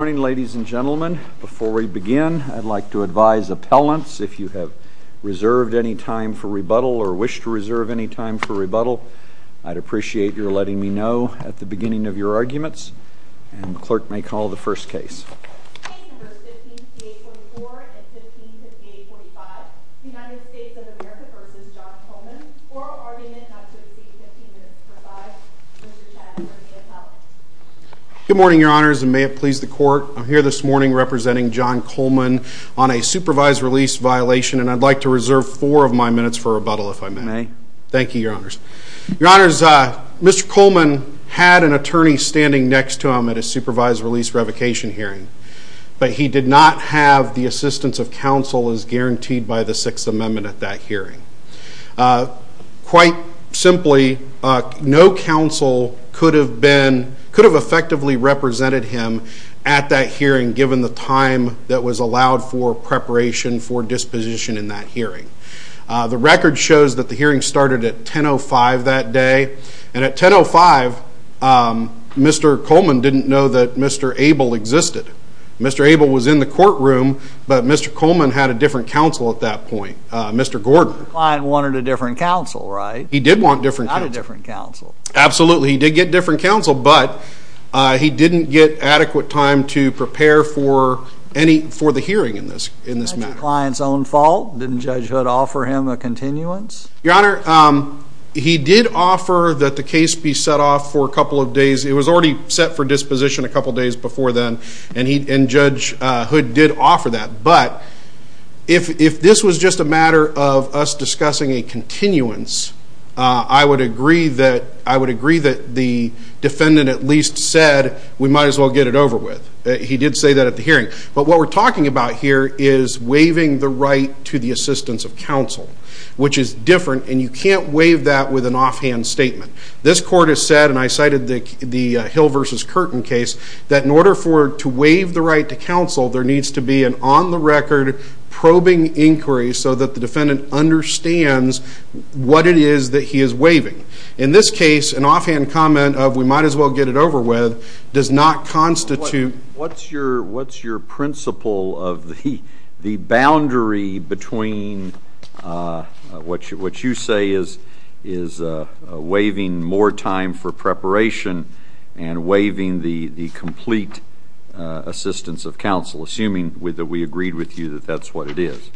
Good morning, ladies and gentlemen. Before we begin, I'd like to advise appellants, if you have reserved any time for rebuttal or wish to reserve any time for rebuttal, I'd appreciate your letting me know at the beginning of your arguments. And the clerk may call the first case. Cases 15-4844 and 15-4845. United States of America v. John Coleman. Oral argument not to exceed 15 minutes per side. Mr. Chas or the appellant. Good morning, your honors, and may it please the court. I'm here this morning representing John Coleman on a supervised release violation, and I'd like to reserve four of my minutes for rebuttal, if I may. May. Thank you, your honors. Your honors, Mr. Coleman had an attorney standing next to him at a supervised release revocation hearing, but he did not have the assistance of counsel as guaranteed by the Sixth Amendment at that hearing. Quite simply, no counsel could have effectively represented him at that hearing given the time that was allowed for preparation for disposition in that hearing. The record shows that the hearing started at 10.05 that day, and at 10.05, Mr. Coleman didn't know that Mr. Abel existed. Mr. Abel was in the courtroom, but Mr. Coleman had a different counsel at that point, Mr. Gordon. The client wanted a different counsel, right? He did want a different counsel. Not a different counsel. Absolutely. He did get different counsel, but he didn't get adequate time to prepare for the hearing in this matter. Was that your client's own fault? Didn't Judge Hood offer him a continuance? Your honor, he did offer that the case be set off for a couple of days. It was already set for disposition a couple of days before then, and Judge Hood did offer that. But if this was just a matter of us discussing a continuance, I would agree that the defendant at least said, we might as well get it over with. He did say that at the hearing. But what we're talking about here is waiving the right to the assistance of counsel, which is different, and you can't waive that with an offhand statement. This court has said, and I cited the Hill v. Curtin case, that in order to waive the right to counsel, there needs to be an on-the-record probing inquiry so that the defendant understands what it is that he is waiving. In this case, an offhand comment of, we might as well get it over with, does not constitute... What's your principle of the boundary between what you say is waiving more time for preparation and waiving the complete assistance of counsel, assuming that we agreed with you that that's what it is?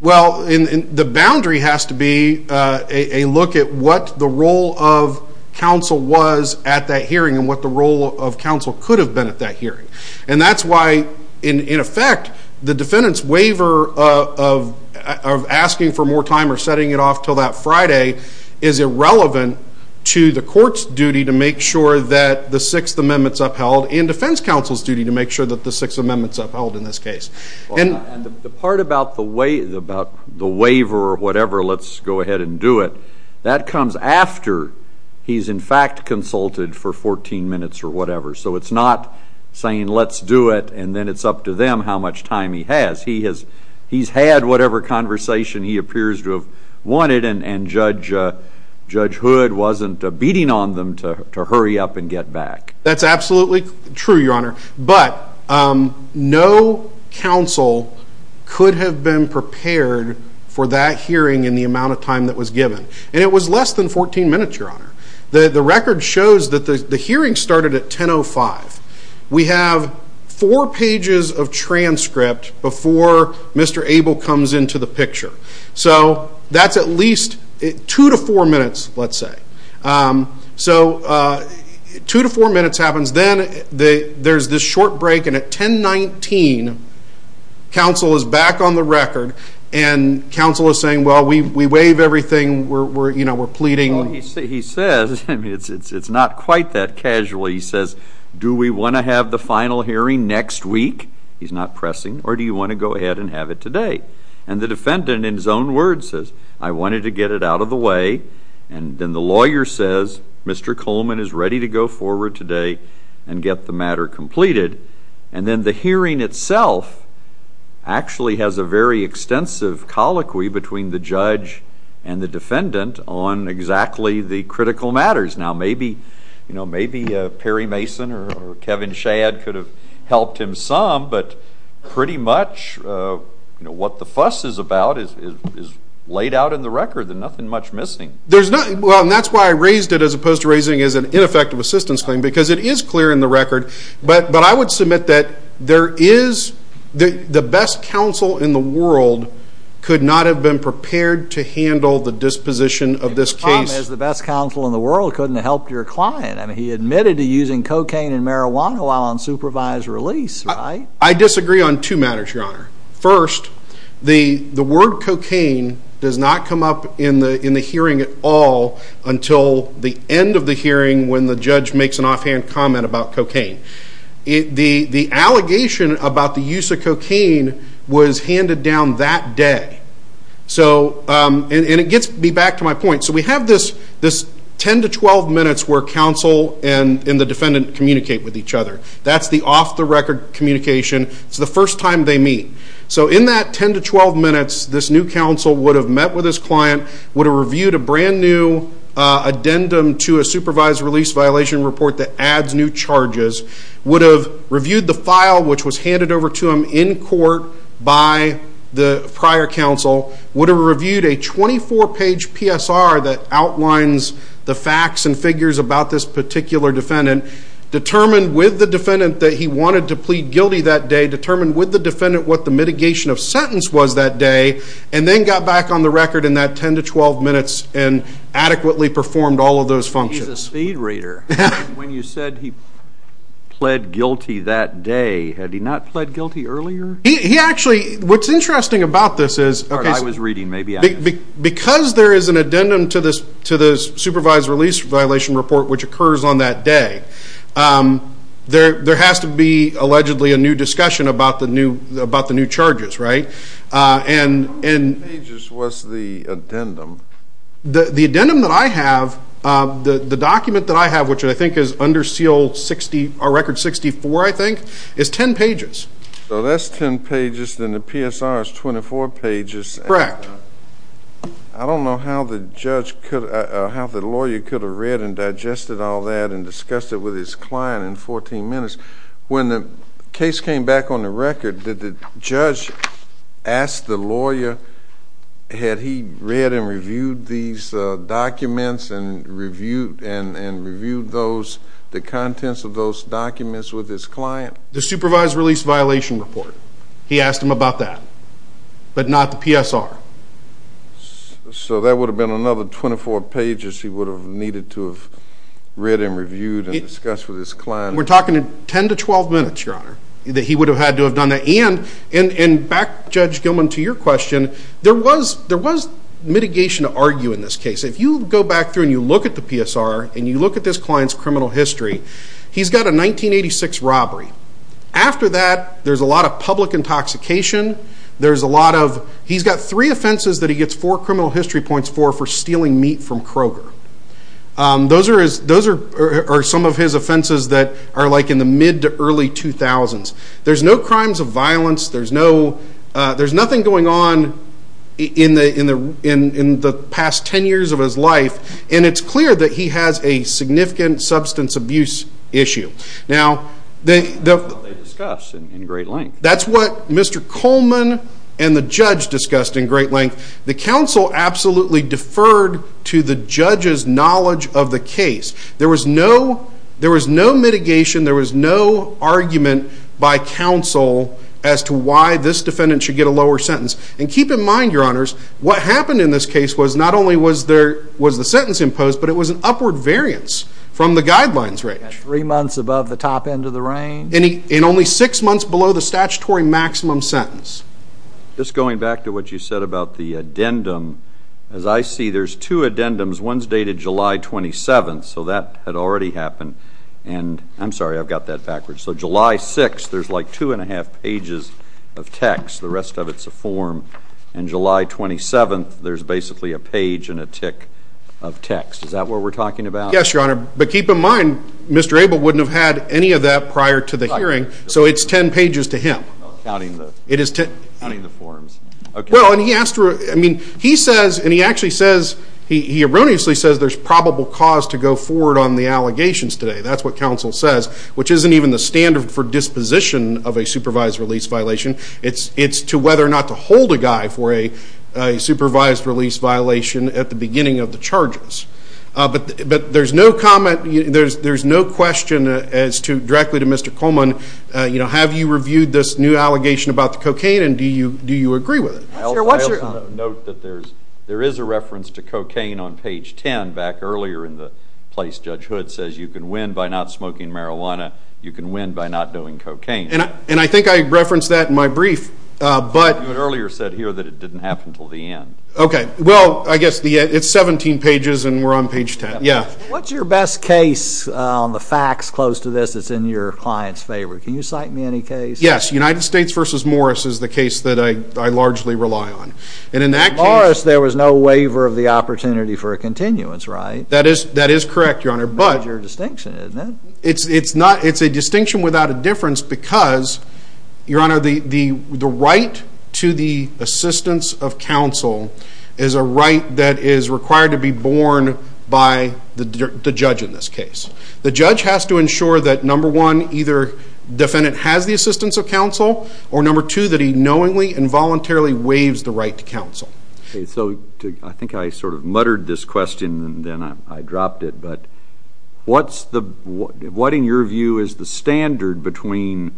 Well, the boundary has to be a look at what the role of counsel was at that hearing and what the role of counsel could have been at that hearing. And that's why, in effect, the defendant's waiver of asking for more time or setting it off until that Friday is irrelevant to the court's duty to make sure that the Sixth Amendment is upheld and defense counsel's duty to make sure that the Sixth Amendment is upheld in this case. And the part about the waiver or whatever, let's go ahead and do it, that comes after he's, in fact, consulted for 14 minutes or whatever. So it's not saying, let's do it, and then it's up to them how much time he has. He's had whatever conversation he appears to have wanted, and Judge Hood wasn't beating on them to hurry up and get back. That's absolutely true, Your Honor. But no counsel could have been prepared for that hearing in the amount of time that was given. And it was less than 14 minutes, Your Honor. The record shows that the hearing started at 10.05. We have four pages of transcript before Mr. Abel comes into the picture. So that's at least two to four minutes, let's say. So two to four minutes happens. Then there's this short break, and at 10.19, counsel is back on the record, and counsel is saying, well, we waive everything, we're pleading. Well, he says, I mean, it's not quite that casual. He says, do we want to have the final hearing next week? He's not pressing. Or do you want to go ahead and have it today? And the defendant, in his own words, says, I wanted to get it out of the way. And then the lawyer says, Mr. Coleman is ready to go forward today and get the matter completed. And then the hearing itself actually has a very extensive colloquy between the judge and the defendant on exactly the critical matters. Now, maybe Perry Mason or Kevin Shad could have helped him some, but pretty much what the fuss is about is laid out in the record. There's nothing much missing. Well, and that's why I raised it as opposed to raising it as an ineffective assistance claim, because it is clear in the record. But I would submit that there is the best counsel in the world could not have been prepared to handle the disposition of this case. The best counsel in the world couldn't have helped your client. I mean, he admitted to using cocaine and marijuana while on supervised release, right? I disagree on two matters, Your Honor. First, the word cocaine does not come up in the hearing at all until the end of the hearing when the judge makes an offhand comment about cocaine. The allegation about the use of cocaine was handed down that day. And it gets me back to my point. So we have this 10 to 12 minutes where counsel and the defendant communicate with each other. That's the off-the-record communication. It's the first time they meet. So in that 10 to 12 minutes, this new counsel would have met with his client, would have reviewed a brand-new addendum to a supervised release violation report that adds new charges, would have reviewed the file which was handed over to him in court by the prior counsel, would have reviewed a 24-page PSR that outlines the facts and figures about this particular defendant, determined with the defendant that he wanted to plead guilty that day, determined with the defendant what the mitigation of sentence was that day, and then got back on the record in that 10 to 12 minutes and adequately performed all of those functions. He's a speed reader. When you said he pled guilty that day, had he not pled guilty earlier? He actually, what's interesting about this is because there is an addendum to this supervised release violation report which occurs on that day, there has to be allegedly a new discussion about the new charges, right? How many pages was the addendum? The addendum that I have, the document that I have, which I think is under seal 60 or record 64, I think, is 10 pages. So that's 10 pages, and the PSR is 24 pages. Correct. I don't know how the lawyer could have read and digested all that and discussed it with his client in 14 minutes. When the case came back on the record, did the judge ask the lawyer, had he read and reviewed these documents and reviewed the contents of those documents with his client? The supervised release violation report, he asked him about that, but not the PSR. So that would have been another 24 pages he would have needed to have read and reviewed and discussed with his client. We're talking 10 to 12 minutes, Your Honor, that he would have had to have done that. And back, Judge Gilman, to your question, there was mitigation to argue in this case. If you go back through and you look at the PSR and you look at this client's criminal history, he's got a 1986 robbery. After that, there's a lot of public intoxication. There's a lot of, he's got three offenses that he gets four criminal history points for for stealing meat from Kroger. Those are some of his offenses that are like in the mid to early 2000s. There's no crimes of violence. There's nothing going on in the past 10 years of his life. And it's clear that he has a significant substance abuse issue. Now, that's what Mr. Coleman and the judge discussed in great length. The counsel absolutely deferred to the judge's knowledge of the case. There was no mitigation. There was no argument by counsel as to why this defendant should get a lower sentence. And keep in mind, Your Honors, what happened in this case was not only was the sentence imposed, but it was an upward variance from the guidelines range. Three months above the top end of the range. And only six months below the statutory maximum sentence. Just going back to what you said about the addendum, as I see, there's two addendums. One's dated July 27th, so that had already happened. And I'm sorry, I've got that backwards. So July 6th, there's like two and a half pages of text. The rest of it's a form. And July 27th, there's basically a page and a tick of text. Is that what we're talking about? Yes, Your Honor. But keep in mind, Mr. Abel wouldn't have had any of that prior to the hearing. So it's 10 pages to him. Oh, counting the forms. Well, and he asked for it. I mean, he says, and he actually says, he erroneously says there's probable cause to go forward on the allegations today. That's what counsel says, which isn't even the standard for disposition of a supervised release violation. It's to whether or not to hold a guy for a supervised release violation at the beginning of the charges. But there's no comment, there's no question as to, directly to Mr. Coleman, have you reviewed this new allegation about the cocaine and do you agree with it? I'll note that there is a reference to cocaine on page 10 back earlier in the place Judge Hood says you can win by not smoking marijuana, you can win by not doing cocaine. And I think I referenced that in my brief. But you had earlier said here that it didn't happen until the end. Okay. Well, I guess it's 17 pages and we're on page 10. What's your best case on the facts close to this that's in your client's favor? Can you cite me any case? Yes. United States v. Morris is the case that I largely rely on. In Morris, there was no waiver of the opportunity for a continuance, right? That is correct, Your Honor. It's a distinction, isn't it? is a right that is required to be borne by the judge in this case. The judge has to ensure that, number one, either defendant has the assistance of counsel or, number two, that he knowingly and voluntarily waives the right to counsel. Okay. So I think I sort of muttered this question and then I dropped it, but what in your view is the standard between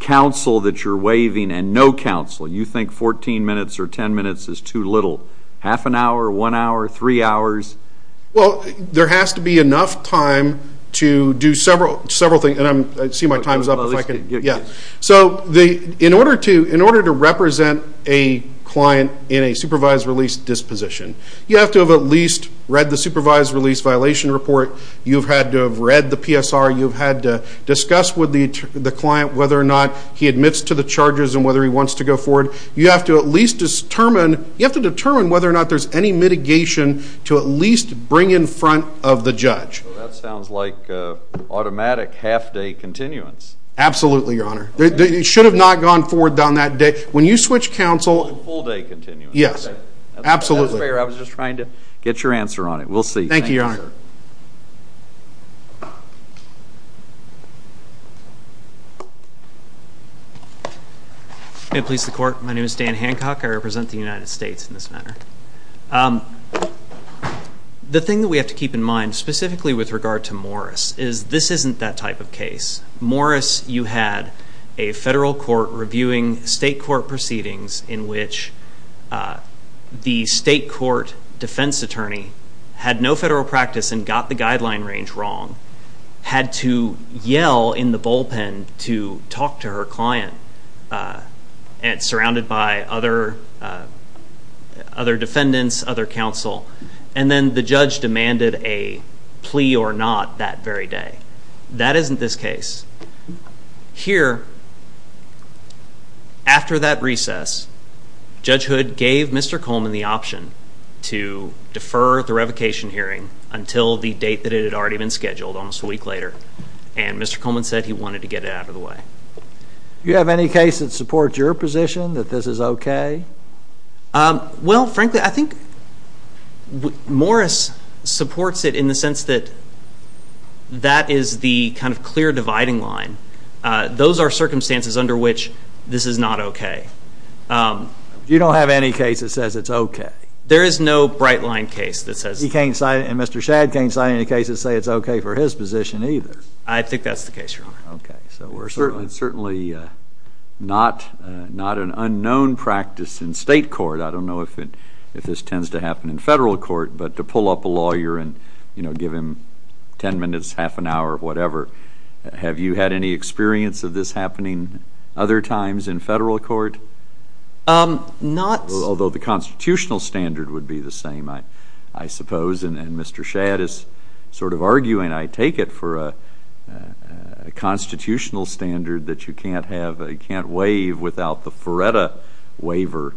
counsel that you're waiving and no counsel? You think 14 minutes or 10 minutes is too little? Half an hour? One hour? Three hours? Well, there has to be enough time to do several things. I see my time is up. So in order to represent a client in a supervised release disposition, you have to have at least read the supervised release violation report. You've had to have read the PSR. You've had to discuss with the client whether or not he admits to the charges and whether he wants to go forward. You have to at least determine whether or not there's any mitigation to at least bring in front of the judge. That sounds like automatic half-day continuance. Absolutely, Your Honor. It should have not gone forward down that day. When you switch counsel... Full-day continuance. Yes. Absolutely. That's fair. I was just trying to get your answer on it. We'll see. Thank you, Your Honor. Your Honor. May it please the Court. My name is Dan Hancock. I represent the United States in this matter. The thing that we have to keep in mind, specifically with regard to Morris, is this isn't that type of case. Morris, you had a federal court reviewing state court proceedings in which the state court defense attorney had no federal practice and got the guideline range wrong, had to yell in the bullpen to talk to her client, surrounded by other defendants, other counsel, and then the judge demanded a plea or not that very day. That isn't this case. Here, after that recess, Judge Hood gave Mr. Coleman the option to defer the revocation hearing until the date that it had already been scheduled, almost a week later, and Mr. Coleman said he wanted to get it out of the way. Do you have any case that supports your position that this is okay? Well, frankly, I think Morris supports it in the sense that that is the kind of clear dividing line. Those are circumstances under which this is not okay. You don't have any case that says it's okay? There is no bright line case that says it's okay. And Mr. Shadd can't cite any case that says it's okay for his position either? I think that's the case, Your Honor. It's certainly not an unknown practice in state court. I don't know if this tends to happen in federal court, but to pull up a lawyer and give him 10 minutes, half an hour, whatever. Have you had any experience of this happening other times in federal court? Not. Although the constitutional standard would be the same, I suppose. And Mr. Shadd is sort of arguing, I take it, for a constitutional standard that you can't have, you can't waive without the FREDA waiver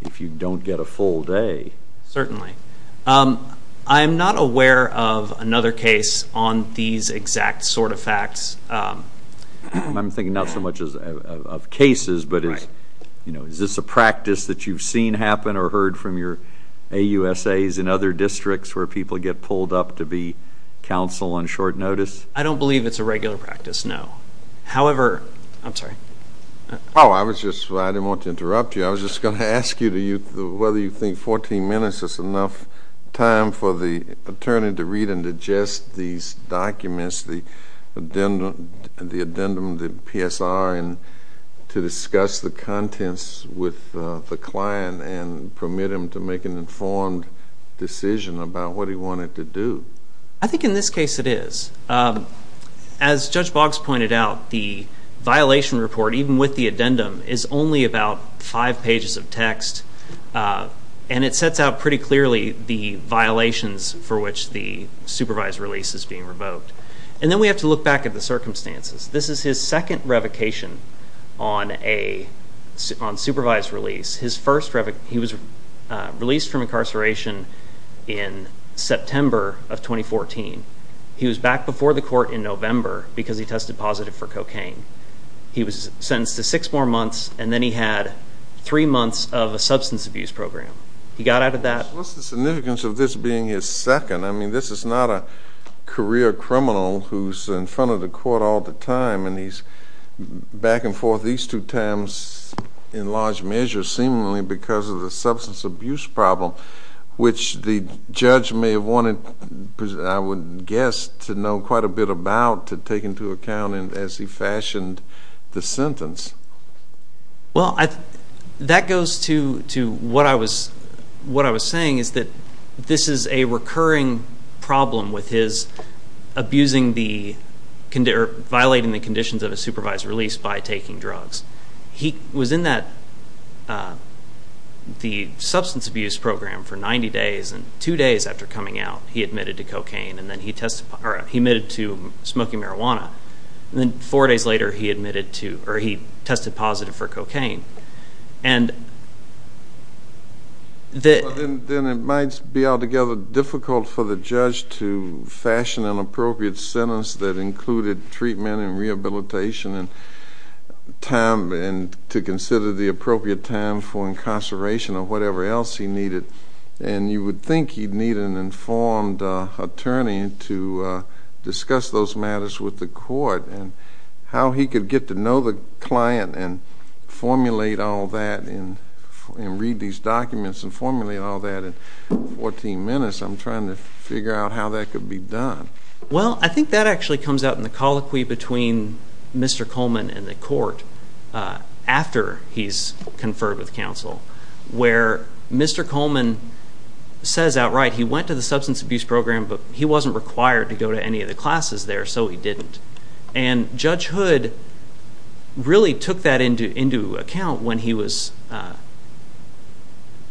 if you don't get a full day. Certainly. I'm not aware of another case on these exact sort of facts. I'm thinking not so much of cases, but is this a practice that you've seen happen or heard from your AUSAs in other districts where people get pulled up to be counsel on short notice? I don't believe it's a regular practice, no. However, I'm sorry. I didn't want to interrupt you. I was just going to ask you whether you think 14 minutes is enough time for the attorney to read and digest these documents, the addendum, the PSR, and to discuss the contents with the client and permit him to make an informed decision about what he wanted to do. I think in this case it is. As Judge Boggs pointed out, the violation report, even with the addendum, is only about five pages of text, and it sets out pretty clearly the violations for which the supervised release is being revoked. And then we have to look back at the circumstances. This is his second revocation on supervised release. He was released from incarceration in September of 2014. He was back before the court in November because he tested positive for cocaine. He was sentenced to six more months, and then he had three months of a substance abuse program. He got out of that. What's the significance of this being his second? I mean, this is not a career criminal who's in front of the court all the time, and he's back and forth these two times in large measure, seemingly because of the substance abuse problem, which the judge may have wanted, I would guess, to know quite a bit about to take into account as he fashioned the sentence. Well, that goes to what I was saying, is that this is a recurring problem with his abusing the or violating the conditions of a supervised release by taking drugs. He was in the substance abuse program for 90 days, and two days after coming out he admitted to cocaine and then he admitted to smoking marijuana, and then four days later he admitted to or he tested positive for cocaine. Then it might be altogether difficult for the judge to fashion an appropriate sentence that included treatment and rehabilitation and to consider the appropriate time for incarceration or whatever else he needed, and you would think he'd need an informed attorney to discuss those matters with the court and how he could get to know the client and formulate all that and read these documents and formulate all that in 14 minutes. I'm trying to figure out how that could be done. Well, I think that actually comes out in the colloquy between Mr. Coleman and the court after he's conferred with counsel, where Mr. Coleman says outright he went to the substance abuse program, but he wasn't required to go to any of the classes there, so he didn't. And Judge Hood really took that into account when he was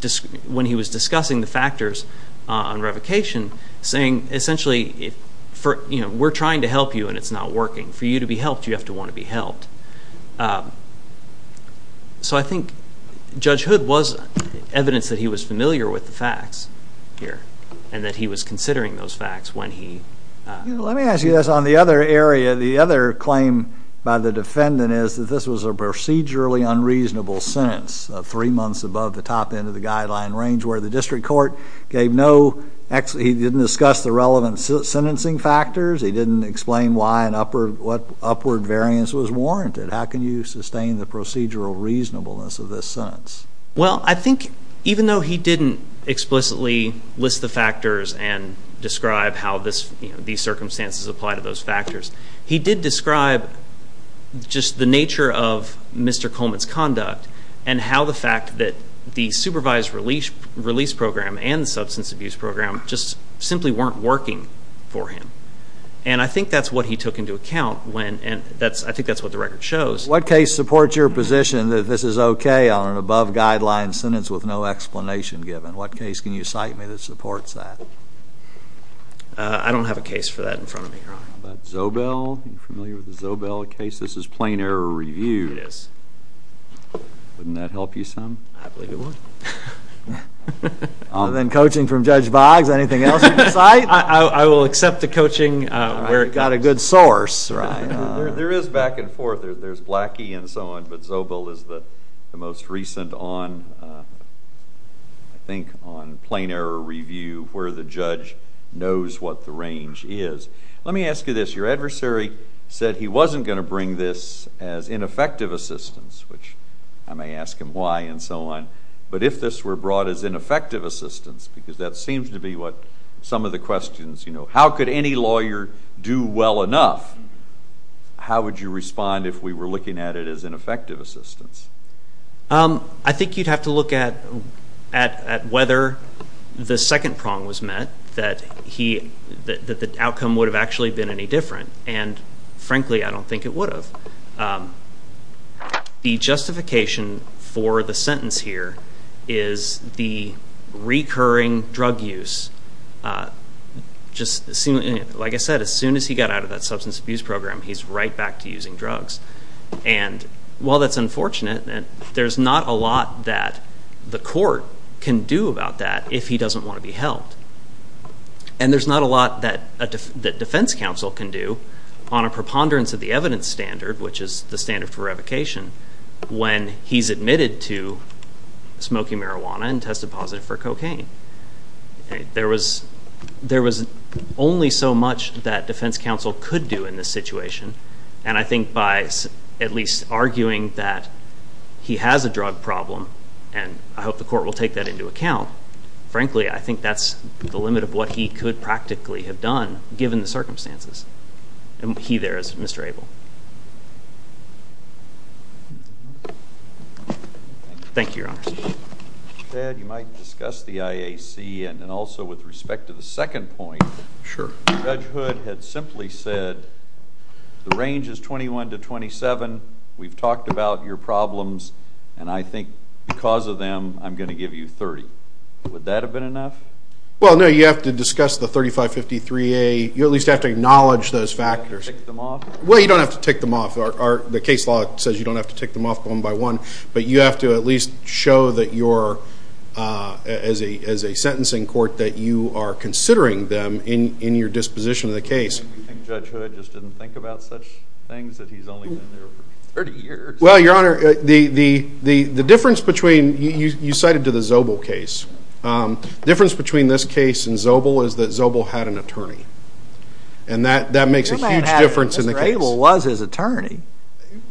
discussing the factors on revocation, saying essentially, we're trying to help you and it's not working. For you to be helped, you have to want to be helped. So I think Judge Hood was evidence that he was familiar with the facts here and that he was considering those facts when he... Let me ask you this on the other area. The other claim by the defendant is that this was a procedurally unreasonable sentence, three months above the top end of the guideline range, where the district court gave no... Actually, he didn't discuss the relevant sentencing factors. He didn't explain what upward variance was warranted. How can you sustain the procedural reasonableness of this sentence? Well, I think even though he didn't explicitly list the factors and describe how these circumstances apply to those factors, he did describe just the nature of Mr. Coleman's conduct and how the fact that the supervised release program and the substance abuse program just simply weren't working for him. And I think that's what he took into account when... I think that's what the record shows. What case supports your position that this is okay on an above-guideline sentence with no explanation given? What case can you cite me that supports that? I don't have a case for that in front of me, Your Honor. How about Zobel? Are you familiar with the Zobel case? This is plain error review. It is. Wouldn't that help you some? I believe it would. Other than coaching from Judge Boggs, anything else you can cite? I will accept the coaching where it got a good source. There is back and forth. There's Blackie and so on, but Zobel is the most recent on, I think, on plain error review where the judge knows what the range is. Let me ask you this. Your adversary said he wasn't going to bring this as ineffective assistance, which I may ask him why and so on, but if this were brought as ineffective assistance, because that seems to be what some of the questions, you know, how could any lawyer do well enough, how would you respond if we were looking at it as ineffective assistance? I think you'd have to look at whether the second prong was met, that the outcome would have actually been any different, and, frankly, I don't think it would have. The justification for the sentence here is the recurring drug use. Like I said, as soon as he got out of that substance abuse program, he's right back to using drugs, and while that's unfortunate, there's not a lot that the court can do about that if he doesn't want to be helped, and there's not a lot that defense counsel can do on a preponderance of the evidence standard, which is the standard for revocation, when he's admitted to smoking marijuana and tested positive for cocaine. There was only so much that defense counsel could do in this situation, and I think by at least arguing that he has a drug problem, and I hope the court will take that into account, frankly, I think that's the limit of what he could practically have done given the circumstances, and he there is Mr. Abel. Thank you, Your Honor. Chad, you might discuss the IAC, and also with respect to the second point, Judge Hood had simply said the range is 21 to 27, we've talked about your problems, and I think because of them I'm going to give you 30. Would that have been enough? Well, no, you have to discuss the 3553A, you at least have to acknowledge those factors. Well, you don't have to tick them off. The case law says you don't have to tick them off one by one, but you have to at least show that you're, as a sentencing court, that you are considering them in your disposition of the case. And Judge Hood just didn't think about such things, that he's only been there for 30 years. Well, Your Honor, the difference between, you cited to the Zobel case, the difference between this case and Zobel is that Zobel had an attorney, and that makes a huge difference in the case. Mr. Abel was his attorney.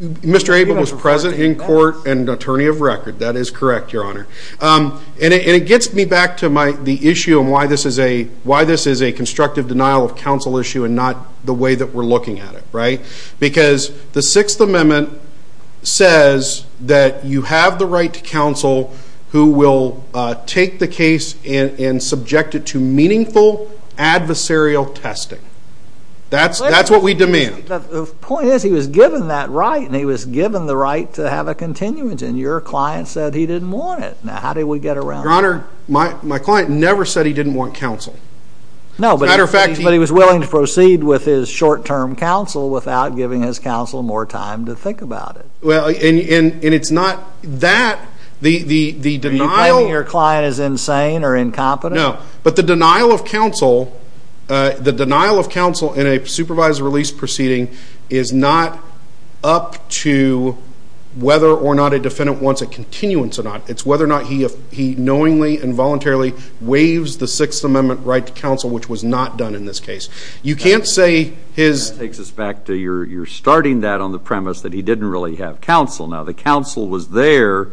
Mr. Abel was present in court and attorney of record, that is correct, Your Honor. And it gets me back to the issue and why this is a constructive denial of counsel issue and not the way that we're looking at it, right? Because the Sixth Amendment says that you have the right to counsel who will take the case and subject it to meaningful adversarial testing. That's what we demand. The point is, he was given that right, and he was given the right to have a continuance, and your client said he didn't want it. Now, how did we get around that? Your Honor, my client never said he didn't want counsel. No, but he was willing to proceed with his short-term counsel without giving his counsel more time to think about it. And it's not that. Are you claiming your client is insane or incompetent? No. But the denial of counsel in a supervised release proceeding is not up to whether or not a defendant wants a continuance or not. It's whether or not he knowingly and voluntarily waives the Sixth Amendment right to counsel, which was not done in this case. You can't say his... That takes us back to your starting that on the premise that he didn't really have counsel. Now, the counsel was there,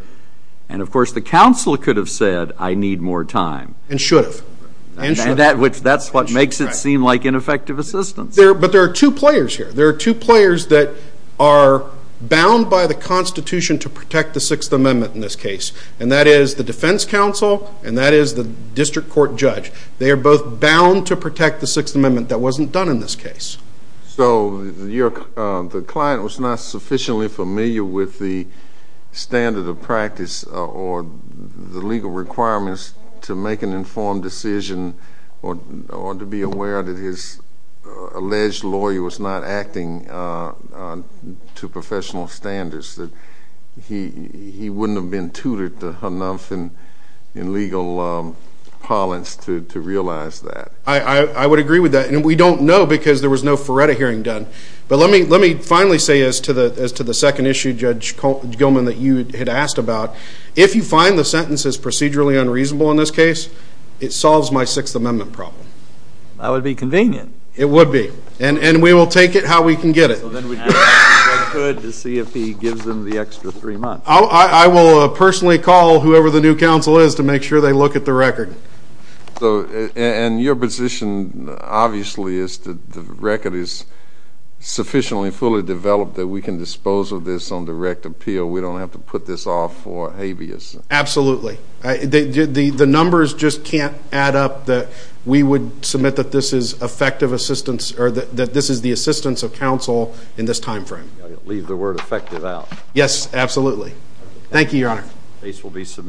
and, of course, the counsel could have said, I need more time. And should have. And that's what makes it seem like ineffective assistance. But there are two players here. There are two players that are bound by the Constitution to protect the Sixth Amendment in this case, and that is the defense counsel and that is the district court judge. They are both bound to protect the Sixth Amendment that wasn't done in this case. So the client was not sufficiently familiar with the standard of practice or the legal requirements to make an informed decision or to be aware that his alleged lawyer was not acting to professional standards, that he wouldn't have been tutored enough in legal parlance to realize that. I would agree with that. And we don't know because there was no Ferretta hearing done. But let me finally say as to the second issue, Judge Gilman, that you had asked about, if you find the sentences procedurally unreasonable in this case, it solves my Sixth Amendment problem. That would be convenient. It would be. And we will take it how we can get it. So then we'd go back to Judge Hood to see if he gives them the extra three months. I will personally call whoever the new counsel is to make sure they look at the record. And your position, obviously, is that the record is sufficiently fully developed that we can dispose of this on direct appeal. We don't have to put this off for habeas. Absolutely. The numbers just can't add up that we would submit that this is effective assistance or that this is the assistance of counsel in this time frame. Leave the word effective out. Yes, absolutely. Thank you, Your Honor. Case will be submitted.